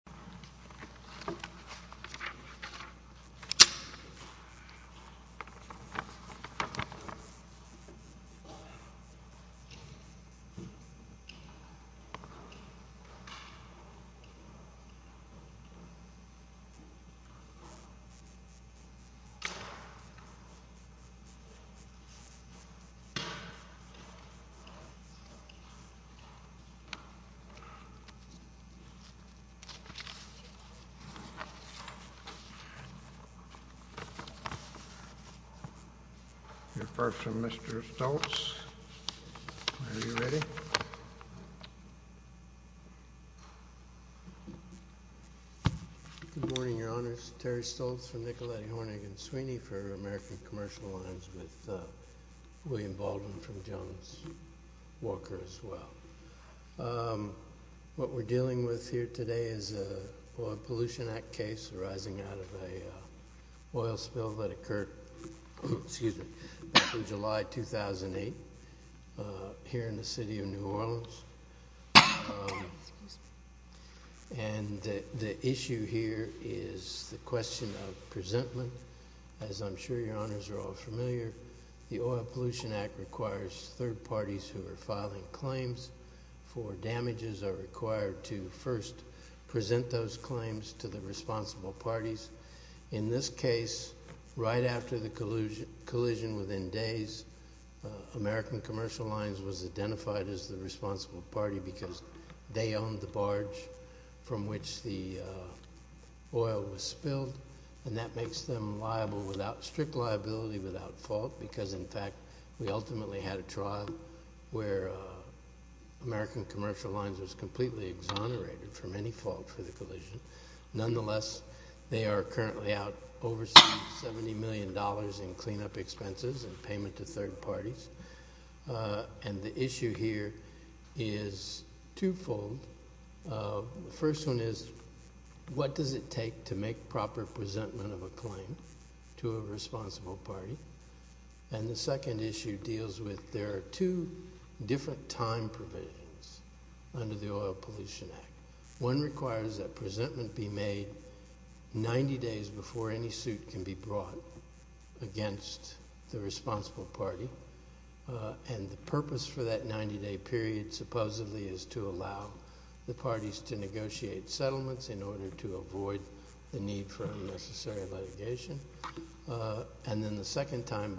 Nguyen v. American Commercial Lines, L Nguyen and Williams. We're first from Mr. Stoltz. Are you ready? Good morning, Your Honors. Terry Stoltz from Nickelhead, Hornig and Sweeney for American Commercial Lines, with William Baldwin from Jones Walker as well. What we're dealing with here today is an Oil Pollution Act case arising out of an oil spill that occurred back in July 2008 here in the city of New Orleans. The issue here is the question of presentment. As I'm sure Your Honors are all familiar, the Oil Pollution Act requires third parties who are filing claims for damages are required to first present those claims to the responsible parties. In this case, right after the collision within days, American Commercial Lines was identified as the responsible party because they owned the barge from which the oil was spilled. That makes them strict liability without fault because, in fact, we ultimately had a trial where American Commercial Lines was completely exonerated from any fault for the collision. Nonetheless, they are currently out over $70 million in cleanup expenses and payment to third parties. The issue here is twofold. First one is, what does it take to make proper presentment of a claim to a responsible party? The second issue deals with there are two different time provisions under the Oil Pollution Act. One requires that presentment be made 90 days before any suit can be brought against the responsible party. The purpose for that 90-day period supposedly is to allow the parties to negotiate settlements in order to avoid the need for unnecessary litigation. Then the second time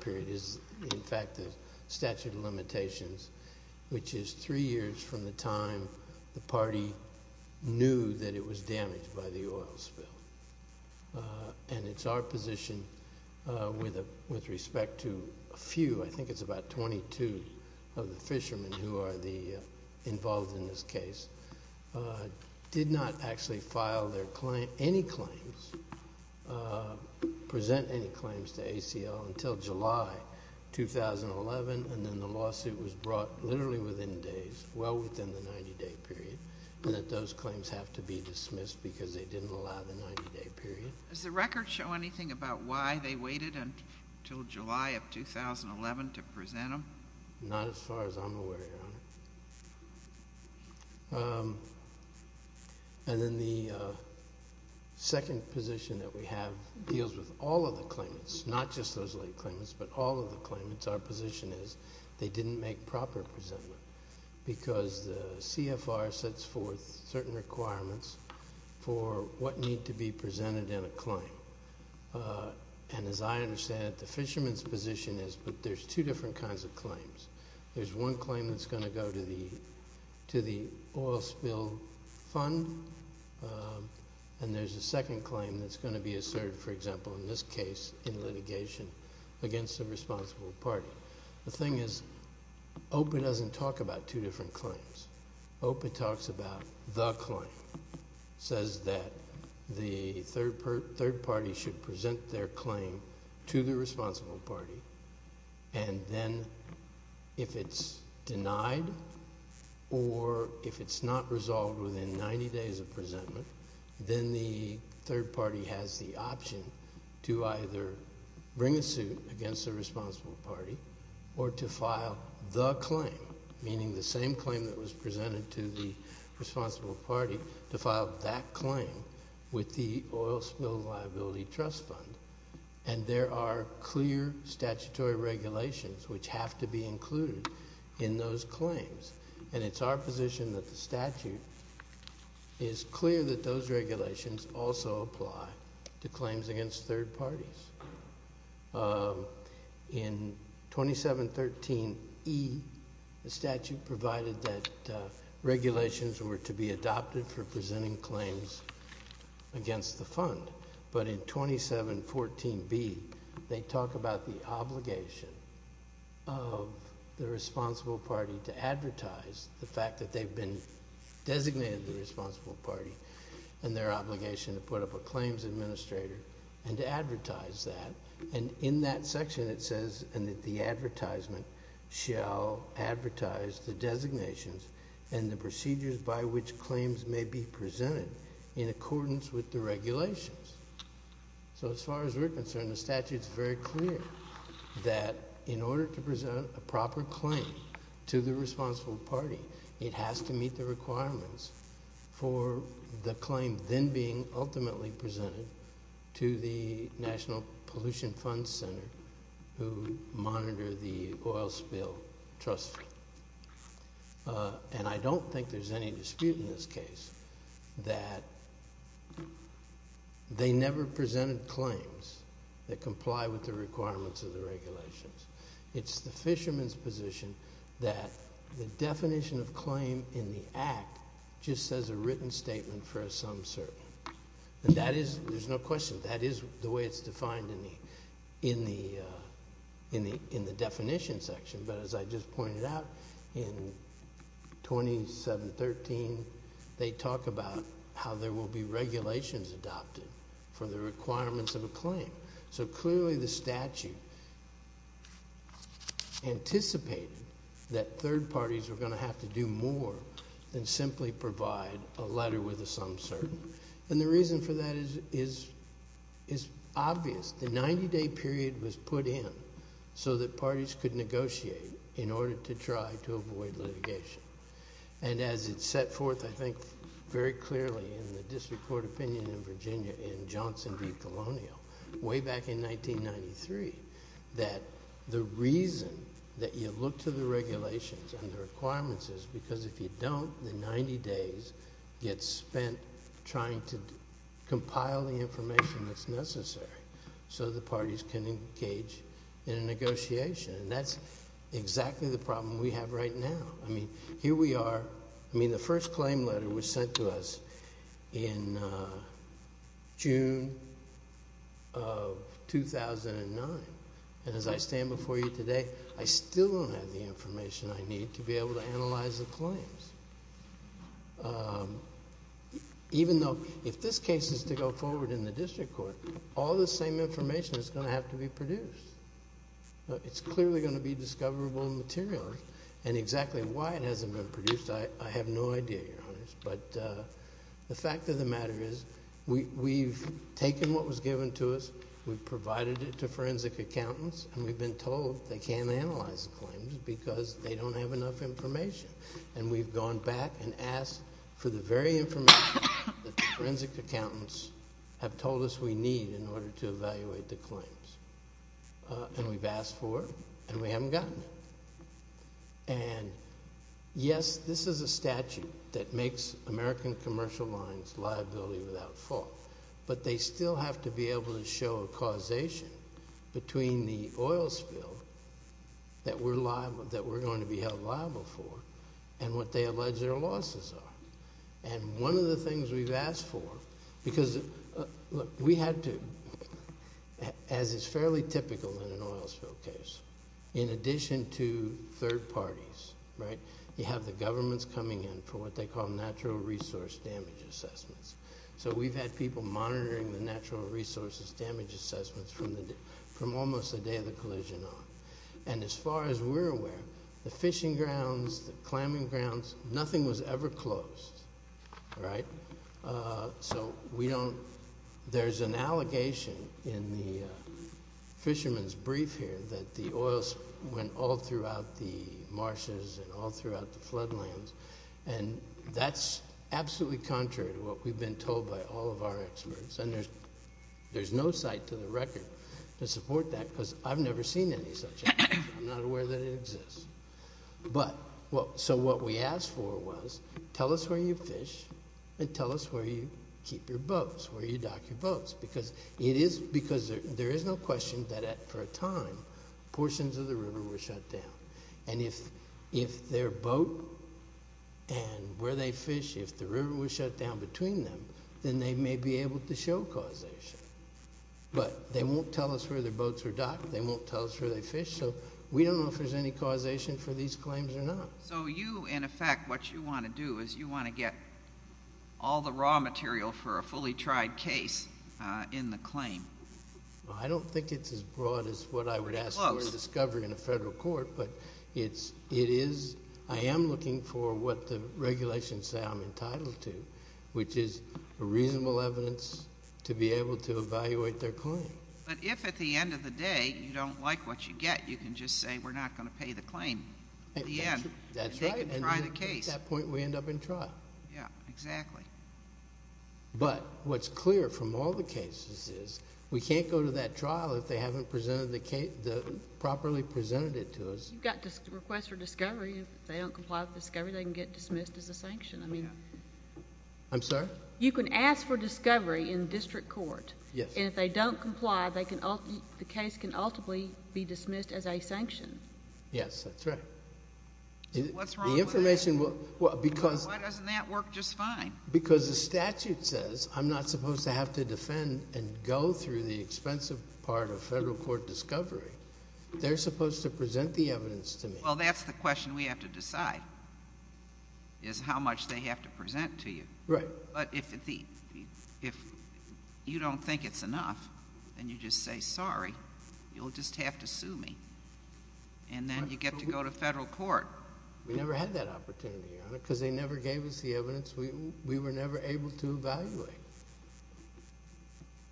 period is, in fact, the statute of limitations, which is three years from the time the party knew that it was damaged by the oil spill. It's our position with respect to a few, I think it's about 22 of the fishermen who are involved in this case, did not actually file any claims, present any claims to ACL until July 2011, and then the lawsuit was brought literally within days, well within the 90-day period, and that those claims have to be dismissed because they didn't allow the 90-day period. Does the record show anything about why they waited until July of 2011 to present them? Not as far as I'm aware, Your Honor. And then the second position that we have deals with all of the claimants, not just those late claimants, but all of the claimants. Our position is they didn't make proper presentment because the CFR sets forth certain requirements for what needs to be presented in a claim, and as I understand it, the fishermen's position is that there's two different kinds of claims. There's one claim that's going to go to the oil spill fund, and there's a second claim that's going to be asserted, for example, in this case, in litigation against the responsible party. The thing is, OPA doesn't talk about two different claims. OPA talks about the claim, says that the third party should present their claim to the responsible party, and then if it's denied or if it's not resolved within 90 days of presentment, then the third party has the option to either bring a suit against the responsible party or to file the claim, meaning the same claim that was presented to the responsible party, to file that claim with the oil spill liability trust fund. And there are clear statutory regulations which have to be included in those claims, and it's our position that the statute is clear that those regulations also apply to claims against third parties. In 2713E, the statute provided that regulations were to be adopted for presenting claims against the fund, but in 2714B, they talk about the obligation of the responsible party to advertise the fact that they've been designated the responsible party and their obligation to put up a claims administrator and to advertise that. And in that section, it says that the advertisement shall advertise the designations and the procedures by which claims may be presented in accordance with the regulations. So as far as we're concerned, the statute's very clear that in order to present a proper claim to the responsible party, it has to meet the requirements for the claim then being ultimately presented to the National Pollution Fund Center, who monitor the oil spill trust fund. And I don't think there's any dispute in this case that they never presented claims that comply with the requirements of the regulations. It's the fisherman's position that the definition of claim in the Act just says a written statement for a sum certain. And that is, there's no question, that is the way it's defined in the definition section. But as I just pointed out, in 2713, they talk about how there will be regulations adopted for the requirements of a claim. So clearly the statute anticipated that third parties were going to have to do more than simply provide a letter with a sum certain. And the reason for that is obvious. The 90-day period was put in so that parties could negotiate in order to try to avoid litigation. And as it's set forth, I think, very clearly in the district court opinion in Virginia in Johnson v. Colonial, way back in 1993, that the reason that you look to the regulations and the requirements is because if you don't, the 90 days get spent trying to compile the so the parties can engage in a negotiation. And that's exactly the problem we have right now. I mean, here we are. I mean, the first claim letter was sent to us in June of 2009, and as I stand before you today, I still don't have the information I need to be able to analyze the claims. Even though, if this case is to go forward in the district court, all the same information is going to have to be produced. It's clearly going to be discoverable material. And exactly why it hasn't been produced, I have no idea, Your Honor. But the fact of the matter is we've taken what was given to us, we've provided it to forensic accountants, and we've been told they can't analyze the claims because they don't have enough information. And we've gone back and asked for the very information that the forensic accountants have told us we need in order to evaluate the claims. And we've asked for it, and we haven't gotten it. And yes, this is a statute that makes American commercial lines liability without fault. But they still have to be able to show a causation between the oil spill that we're going to be held liable for and what they allege their losses are. And one of the things we've asked for, because we had to, as is fairly typical in an oil spill case, in addition to third parties, right, you have the governments coming in for what they call natural resource damage assessments. So we've had people monitoring the natural resources damage assessments from almost the day of the collision on. And as far as we're aware, the fishing grounds, the clamming grounds, nothing was ever closed, right? So we don't – there's an allegation in the fishermen's brief here that the oils went all throughout the marshes and all throughout the floodlands. And that's absolutely contrary to what we've been told by all of our experts. And there's no site to the record to support that, because I've never seen any such thing. I'm not aware that it exists. But – so what we asked for was, tell us where you fish and tell us where you keep your boats, where you dock your boats, because it is – because there is no question that at – for a time, portions of the river were shut down. And if their boat and where they fish, if the river was shut down between them, then they may be able to show causation. But they won't tell us where their boats are docked. They won't tell us where they fish. So we don't know if there's any causation for these claims or not. So you, in effect, what you want to do is you want to get all the raw material for a fully tried case in the claim. Well, I don't think it's as broad as what I would ask for in discovery in a federal court, but it is – I am looking for what the regulations say I'm entitled to, which is a reasonable evidence to be able to evaluate their claim. But if at the end of the day, you don't like what you get, you can just say we're not going to pay the claim at the end. That's right. And they can try the case. And at that point, we end up in trial. Yeah, exactly. But what's clear from all the cases is we can't go to that trial if they haven't presented the – properly presented it to us. You've got to request for discovery. If they don't comply with discovery, they can get dismissed as a sanction. I mean – Yeah. I'm sorry? You can ask for discovery in district court. Yes. And if they don't comply, they can – the case can ultimately be dismissed as a sanction. Yes. That's right. So what's wrong with that? The information will – well, because – Why doesn't that work just fine? Because the statute says I'm not supposed to have to defend and go through the expensive part of federal court discovery. They're supposed to present the evidence to me. Well, that's the question we have to decide is how much they have to present to you. Right. But if you don't think it's enough, then you just say, sorry, you'll just have to sue me. And then you get to go to federal court. We never had that opportunity, Your Honor, because they never gave us the evidence. We were never able to evaluate.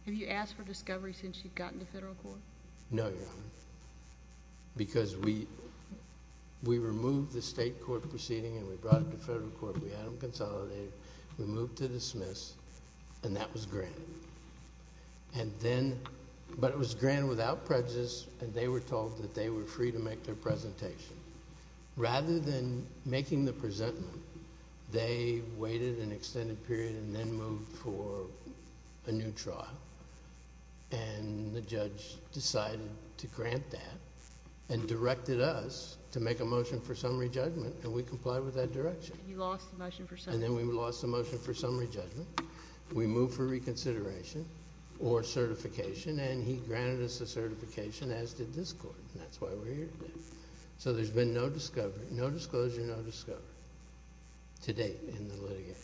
Have you asked for discovery since you've gotten to federal court? No, Your Honor. We never had that opportunity, Your Honor, because we removed the state court proceeding and we brought it to federal court, we had them consolidate it, we moved to dismiss, and that was granted. And then – but it was granted without prejudice, and they were told that they were free to make their presentation. Rather than making the presentment, they waited an extended period and then moved for a new trial. And the judge decided to grant that and directed us to make a motion for summary judgment and we complied with that direction. And you lost the motion for summary judgment. And then we lost the motion for summary judgment. We moved for reconsideration or certification, and he granted us a certification as did this court, and that's why we're here today. So there's been no discovery, no disclosure, no discovery to date in the litigation.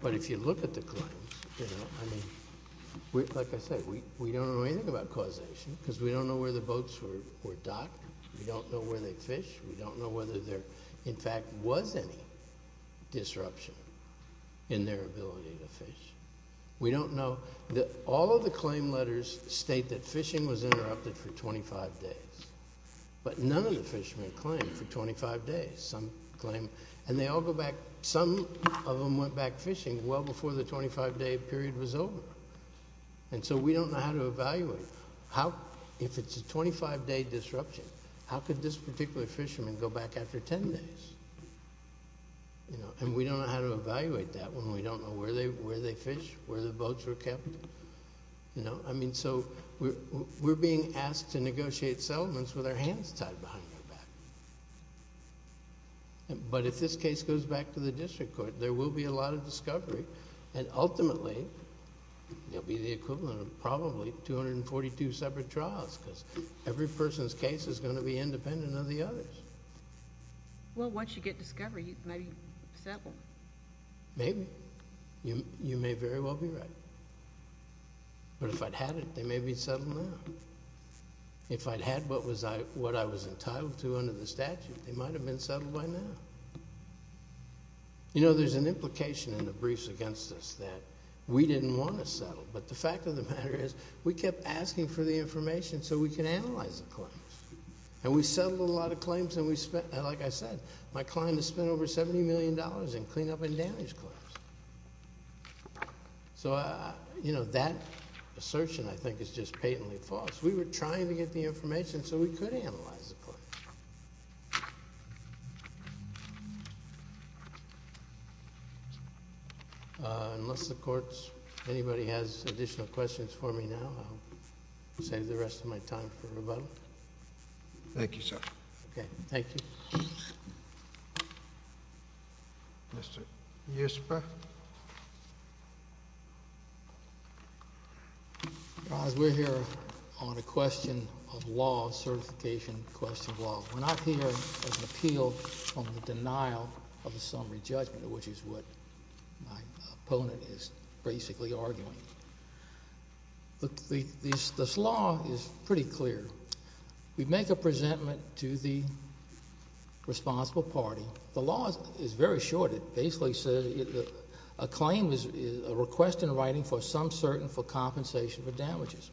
But if you look at the claims, you know, I mean, like I said, we don't know anything about causation because we don't know where the boats were docked, we don't know where they fished, we don't know whether there, in fact, was any disruption in their ability to fish. We don't know – all of the claim letters state that fishing was interrupted for 25 days, but none of the fishermen claimed for 25 days. Some claim – and they all go back – some of them went back fishing well before the 25-day period was over. And so we don't know how to evaluate how – if it's a 25-day disruption, how could this particular fisherman go back after 10 days, you know? And we don't know how to evaluate that when we don't know where they fished, where the boats were kept, you know? I mean, so we're being asked to negotiate settlements with our hands tied behind our back. But if this case goes back to the district court, there will be a lot of discovery, and ultimately, it'll be the equivalent of probably 242 separate trials because every person's case is going to be independent of the others. Well, once you get discovery, you might be settled. Maybe. You may very well be right. But if I'd had it, they may be settled now. If I'd had what I was entitled to under the statute, they might have been settled by now. You know, there's an implication in the briefs against us that we didn't want to settle, but the fact of the matter is we kept asking for the information so we could analyze the claims. And we settled a lot of claims, and we spent – like I said, my client has spent over $70 million in cleanup and damage claims. So, you know, that assertion, I think, is just patently false. We were trying to get the information so we could analyze the claims. Unless the Court's – anybody has additional questions for me now, I'll save the rest of my time for rebuttal. Thank you, sir. Okay. Thank you. Yes, sir. Yes, sir. Your Honor, we're here on a question of law, a certification question of law. We're not here as an appeal on the denial of a summary judgment, which is what my opponent is basically arguing. This law is pretty clear. We make a presentment to the responsible party. The law is very short. It basically says – a claim is a request in writing for some certain for compensation for damages.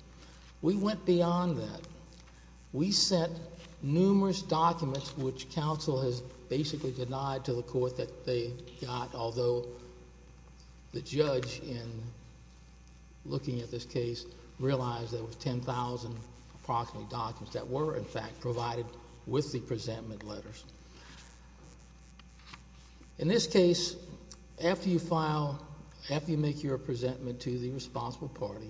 We went beyond that. We sent numerous documents, which counsel has basically denied to the Court that they got, although the judge, in looking at this case, realized there were 10,000 approximate documents that were, in fact, provided with the presentment letters. In this case, after you file – after you make your presentment to the responsible party,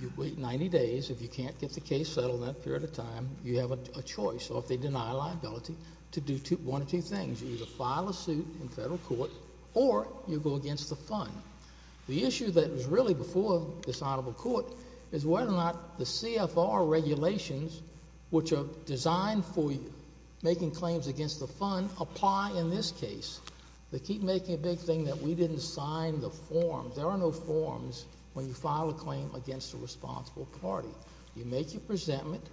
you wait 90 days. If you can't get the case settled in that period of time, you have a choice, or if they deny a liability, to do one of two things. You either file a suit in federal court, or you go against the Fund. The issue that was really before this Honorable Court is whether or not the CFR regulations, which are designed for making claims against the Fund, apply in this case. They keep making a big thing that we didn't sign the form. There are no forms when you file a claim against the responsible party. You make your presentment.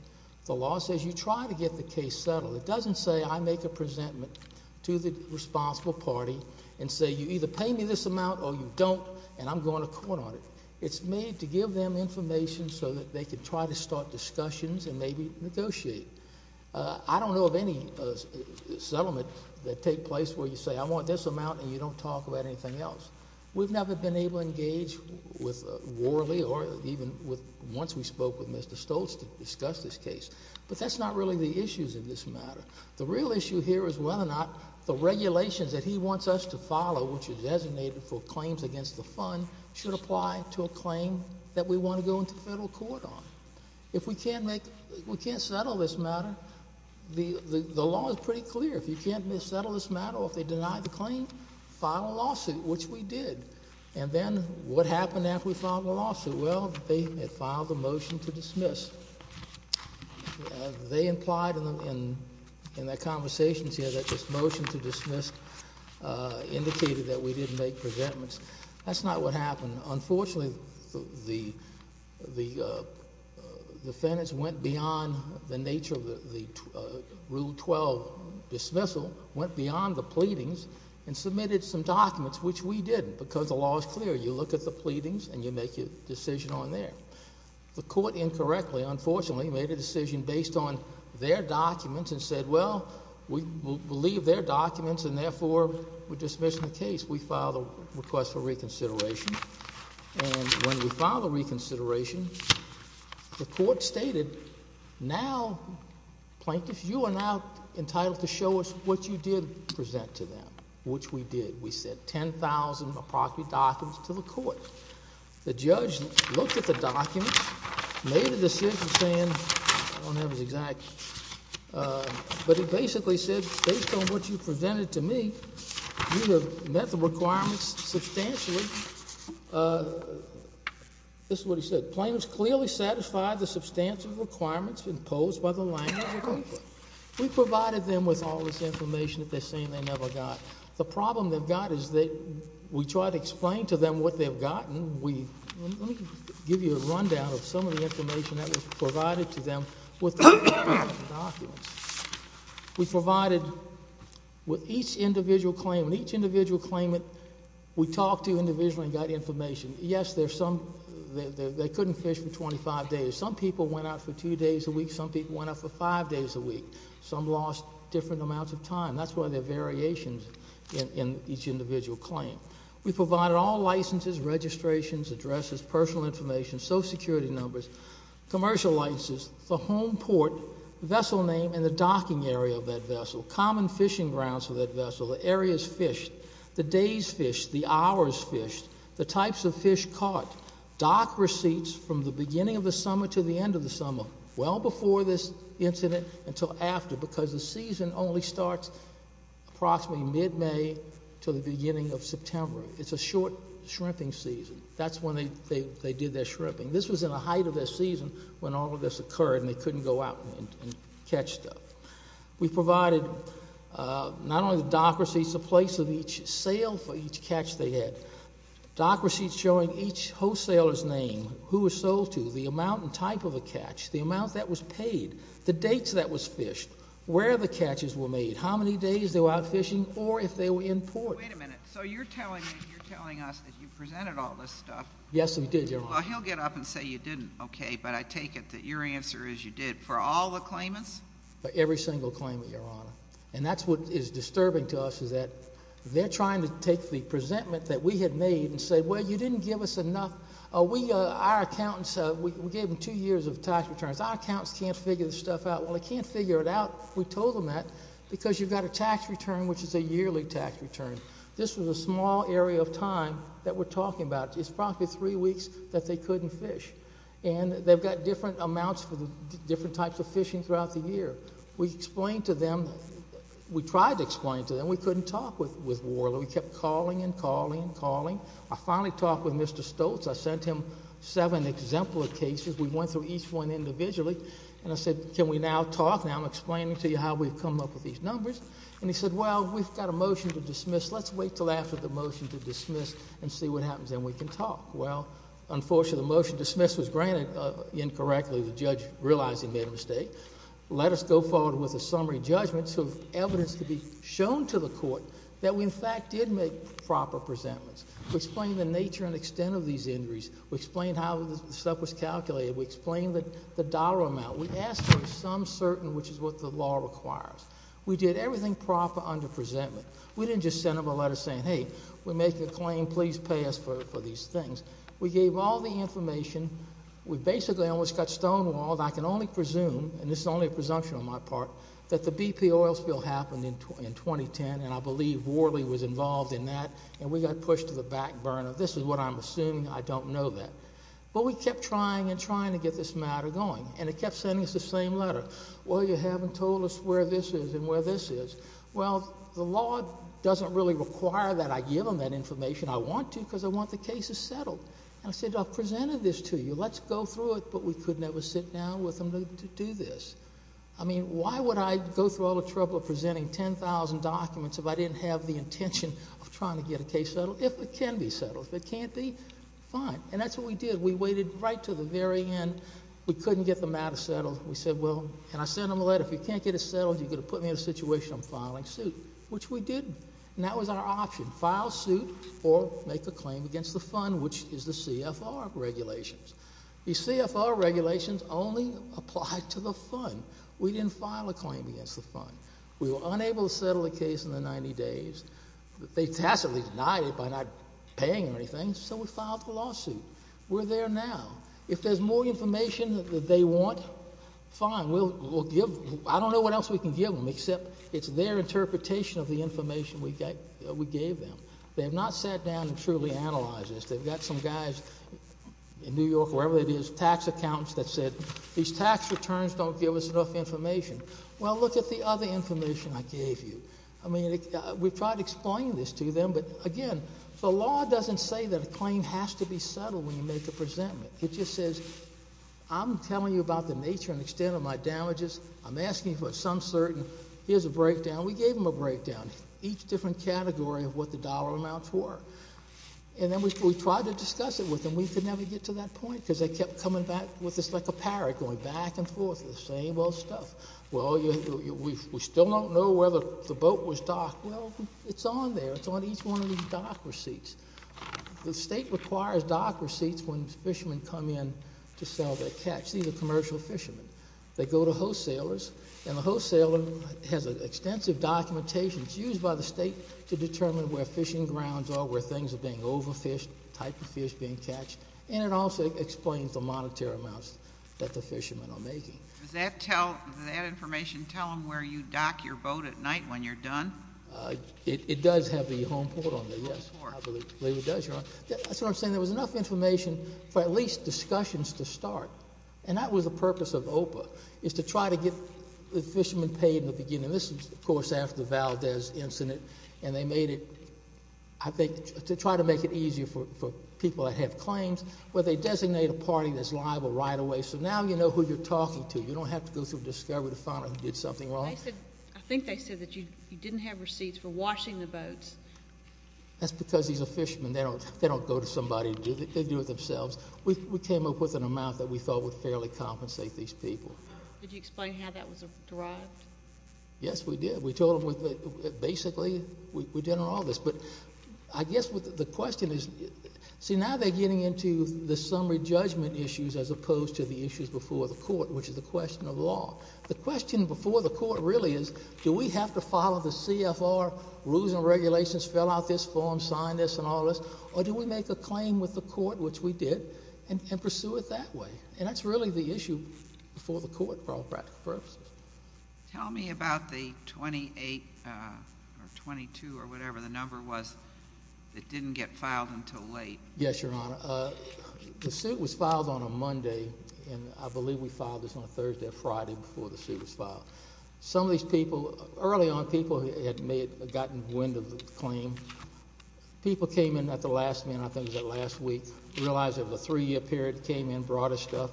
The law says you try to get the case settled. It doesn't say I make a presentment to the responsible party and say you either pay me this amount or you don't, and I'm going to court on it. It's made to give them information so that they could try to start discussions and maybe negotiate. I don't know of any settlement that take place where you say I want this amount and you don't talk about anything else. We've never been able to engage with Worley or even with – once we spoke with Mr. Stoltz to discuss this case, but that's not really the issues in this matter. The real issue here is whether or not the regulations that he wants us to follow, which are designated for claims against the Fund, should apply to a claim that we want to go into federal court on. If we can't make – we can't settle this matter, the law is pretty clear. If you can't settle this matter or if they deny the claim, file a lawsuit, which we did. And then what happened after we filed the lawsuit? Well, they had filed a motion to dismiss. They implied in their conversations here that this motion to dismiss indicated that we didn't make presentments. That's not what happened. Unfortunately, the defendants went beyond the nature of the Rule 12 dismissal, went beyond the pleadings, and submitted some documents, which we didn't, because the law is clear. You look at the pleadings and you make your decision on there. The court, incorrectly, unfortunately, made a decision based on their documents and said, well, we'll leave their documents and therefore we're dismissing the case. We filed a request for reconsideration. And when we filed a reconsideration, the court stated, now, plaintiffs, you are now entitled to show us what you did present to them, which we did. We sent 10,000, approximately, documents to the court. The judge looked at the documents, made a decision saying, I don't have his exact, but he basically said, based on what you presented to me, you have met the requirements substantially. This is what he said. Plaintiffs clearly satisfied the substantive requirements imposed by the language of the complaint. We provided them with all this information that they're saying they never got. The problem they've got is that we try to explain to them what they've gotten. Let me give you a rundown of some of the information that was provided to them with the documents. We provided with each individual claimant, each individual claimant, we talked to individually and got information. Yes, there's some, they couldn't fish for 25 days. Some people went out for two days a week. Some people went out for five days a week. Some lost different amounts of time. That's why there are variations in each individual claim. We provided all licenses, registrations, addresses, personal information, social security numbers, commercial licenses, the home port, vessel name, and the docking area of that vessel, common fishing grounds for that vessel, the areas fished, the days fished, the hours fished, the types of fish caught. Dock receipts from the beginning of the summer to the end of the summer. Well before this incident until after because the season only starts approximately mid-May to the beginning of September. It's a short shrimping season. That's when they did their shrimping. This was in the height of their season when all of this occurred and they couldn't go out and catch stuff. We provided not only the dock receipts, the place of each sale for each catch they had, dock receipts showing each wholesaler's name, who was sold to, the amount and type of a catch, the amount that was paid, the dates that was fished, where the catches were made, how many days they were out fishing, or if they were in port. Wait a minute. So you're telling us that you presented all this stuff. Yes, we did, Your Honor. Well, he'll get up and say you didn't. OK. But I take it that your answer is you did for all the claimants? For every single claimant, Your Honor. And that's what is disturbing to us is that they're trying to take the presentment that we had made and say, Well, you didn't give us enough. We, our accountants, we gave them two years of tax returns. Our accountants can't figure this stuff out. Well, they can't figure it out. We told them that because you've got a tax return, which is a yearly tax return. This was a small area of time that we're talking about. It's probably three weeks that they couldn't fish. And they've got different amounts for the different types of fishing throughout the year. We explained to them, we tried to explain to them, we couldn't talk with Warler. We kept calling and calling and calling. I finally talked with Mr. Stoltz. I sent him seven exemplar cases. We went through each one individually. And I said, Can we now talk? Now I'm explaining to you how we've come up with these numbers. And he said, Well, we've got a motion to dismiss. Let's wait until after the motion to dismiss and see what happens. Then we can talk. Well, unfortunately, the motion to dismiss was granted incorrectly. The judge realized he made a mistake. Let us go forward with a summary judgment so evidence could be shown to the court that we, in fact, did make proper presentments. We explained the nature and extent of these injuries. We explained how the stuff was calculated. We explained the dollar amount. We asked for some certain, which is what the law requires. We did everything proper under presentment. We didn't just send them a letter saying, Hey, we're making a claim. Please pay us for these things. We gave all the information. We basically almost got stonewalled. I can only presume, and this is only a presumption on my part, that the BP oil spill happened in 2010, and I believe Worley was involved in that, and we got pushed to the back burner. This is what I'm assuming. I don't know that. But we kept trying and trying to get this matter going, and it kept sending us the same letter. Well, you haven't told us where this is and where this is. Well, the law doesn't really require that I give them that information. I want to because I want the cases settled. And I said, I've presented this to you. Let's go through it, but we could never sit down with them to do this. I mean, why would I go through all the trouble of presenting 10,000 documents if I didn't have the intention of trying to get a case settled? If it can be settled. If it can't be, fine. And that's what we did. We waited right to the very end. We couldn't get the matter settled. We said, well, and I sent them a letter. If you can't get it settled, you're going to put me in a situation of filing suit, which we didn't. And that was our option, file suit or make a claim against the fund, which is the CFR regulations. The CFR regulations only apply to the fund. We didn't file a claim against the fund. We were unable to settle the case in the 90 days. They tacitly denied it by not paying or anything, so we filed the lawsuit. We're there now. If there's more information that they want, fine. I don't know what else we can give them except it's their interpretation of the information we gave them. They have not sat down and truly analyzed this. They've got some guys in New York, wherever it is, tax accountants that said these tax returns don't give us enough information. Well, look at the other information I gave you. I mean, we've tried to explain this to them, but, again, the law doesn't say that a claim has to be settled when you make a presentment. It just says I'm telling you about the nature and extent of my damages. I'm asking for some certain. Here's a breakdown. We gave them a breakdown, each different category of what the dollar amounts were. And then we tried to discuss it with them. We could never get to that point because they kept coming back with this like a parrot going back and forth, the same old stuff. Well, we still don't know whether the boat was docked. Well, it's on there. It's on each one of these dock receipts. The state requires dock receipts when fishermen come in to sell their catch. These are commercial fishermen. They go to wholesalers, and the wholesaler has extensive documentation. It's used by the state to determine where fishing grounds are, where things are being overfished, the type of fish being catched. And it also explains the monetary amounts that the fishermen are making. Does that information tell them where you dock your boat at night when you're done? It does have the home port on there, yes. I believe it does, Your Honor. That's what I'm saying. There was enough information for at least discussions to start, and that was the purpose of OPA, is to try to get the fishermen paid in the beginning. This is, of course, after the Valdez incident, and they made it, I think, to try to make it easier for people that have claims, where they designate a party that's liable right away. So now you know who you're talking to. You don't have to go through and discover the founder who did something wrong. I think they said that you didn't have receipts for washing the boats. That's because he's a fisherman. They don't go to somebody to do it. They do it themselves. We came up with an amount that we thought would fairly compensate these people. Did you explain how that was derived? Yes, we did. We told them, basically, we did all this. But I guess the question is, see, now they're getting into the summary judgment issues as opposed to the issues before the court, which is the question of law. The question before the court really is, do we have to follow the CFR rules and regulations, fill out this form, sign this and all this, or do we make a claim with the court, which we did, and pursue it that way? And that's really the issue before the court for all practical purposes. Tell me about the 28 or 22 or whatever the number was that didn't get filed until late. Yes, Your Honor. The suit was filed on a Monday, and I believe we filed this on a Thursday or Friday before the suit was filed. Some of these people, early on, people had gotten wind of the claim. People came in at the last minute, I think it was last week, realized it was a three-year period, came in, brought us stuff.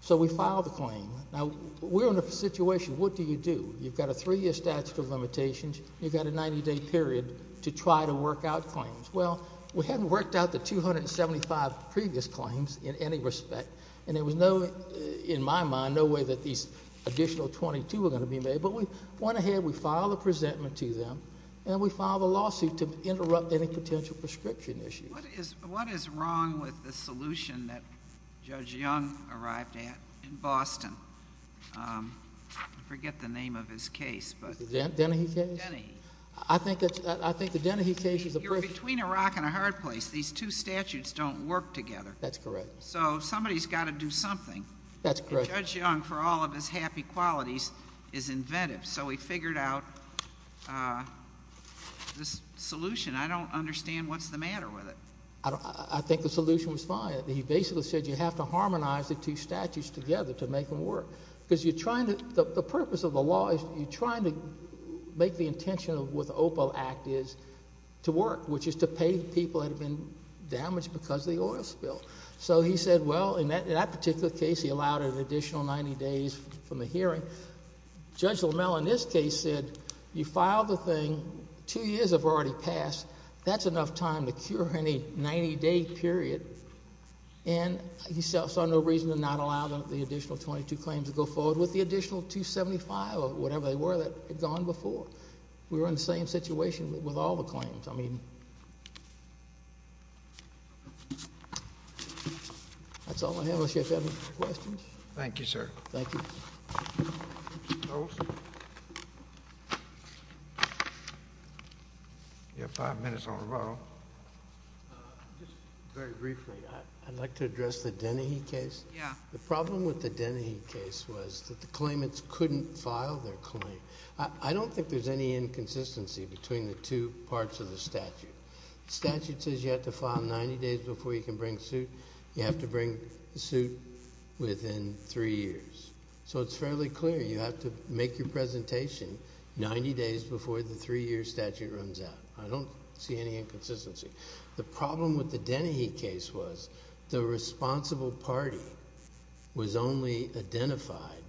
So we filed the claim. Now, we're in a situation, what do you do? You've got a three-year statute of limitations. You've got a 90-day period to try to work out claims. Well, we hadn't worked out the 275 previous claims in any respect, and there was no, in my mind, no way that these additional 22 were going to be made. But we went ahead, we filed a presentment to them, and we filed a lawsuit to interrupt any potential prescription issues. What is wrong with the solution that Judge Young arrived at in Boston? I forget the name of his case. The Dennehy case? Dennehy. I think the Dennehy case is a perfect case. You're between a rock and a hard place. These two statutes don't work together. That's correct. So somebody's got to do something. That's correct. Judge Young, for all of his happy qualities, is inventive, so he figured out this solution. I don't understand what's the matter with it. I think the solution was fine. He basically said you have to harmonize the two statutes together to make them work. The purpose of the law is you're trying to make the intention of what the OPO Act is to work, which is to pay people that have been damaged because of the oil spill. So he said, well, in that particular case, he allowed an additional 90 days from the hearing. Judge Lamell, in this case, said you filed the thing. Two years have already passed. That's enough time to cure any 90-day period. And he saw no reason to not allow the additional 22 claims to go forward with the additional 275 or whatever they were that had gone before. We were in the same situation with all the claims. I mean, that's all I have unless you have any questions. Thank you, sir. Thank you. You have five minutes on the roll. Just very briefly, I'd like to address the Dennehy case. The problem with the Dennehy case was that the claimants couldn't file their claim. I don't think there's any inconsistency between the two parts of the statute. The statute says you have to file 90 days before you can bring suit. You have to bring the suit within three years. So it's fairly clear you have to make your presentation 90 days before the three-year statute runs out. I don't see any inconsistency. The problem with the Dennehy case was the responsible party was only identified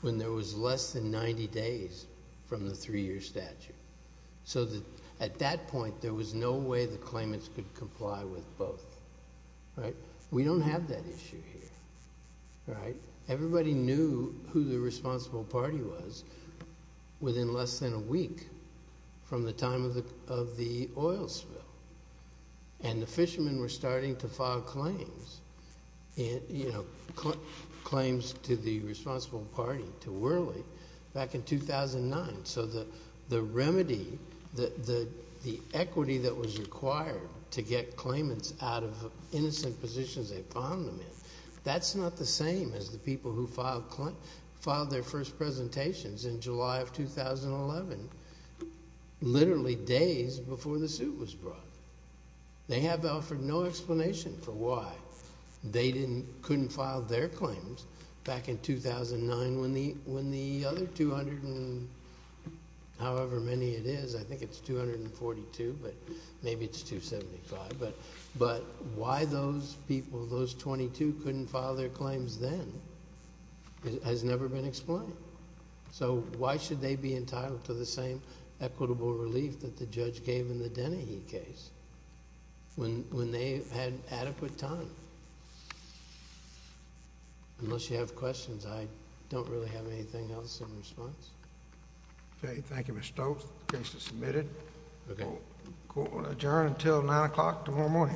when there was less than 90 days from the three-year statute. So at that point, there was no way the claimants could comply with both. We don't have that issue here. Everybody knew who the responsible party was within less than a week from the time of the oil spill. And the fishermen were starting to file claims to the responsible party, to Whirley, back in 2009. So the remedy, the equity that was required to get claimants out of innocent positions they found them in, that's not the same as the people who filed their first presentations in July of 2011, literally days before the suit was brought. They have offered no explanation for why they couldn't file their claims back in 2009 when the other 200 and however many it is, I think it's 242, but maybe it's 275, but why those people, those 22 couldn't file their claims then has never been explained. So why should they be entitled to the same equitable relief that the judge gave in the Dennehy case when they had adequate time? Unless you have questions, I don't really have anything else in response. Okay, thank you, Mr. Stokes. The case is submitted. We'll adjourn until 9 o'clock tomorrow morning.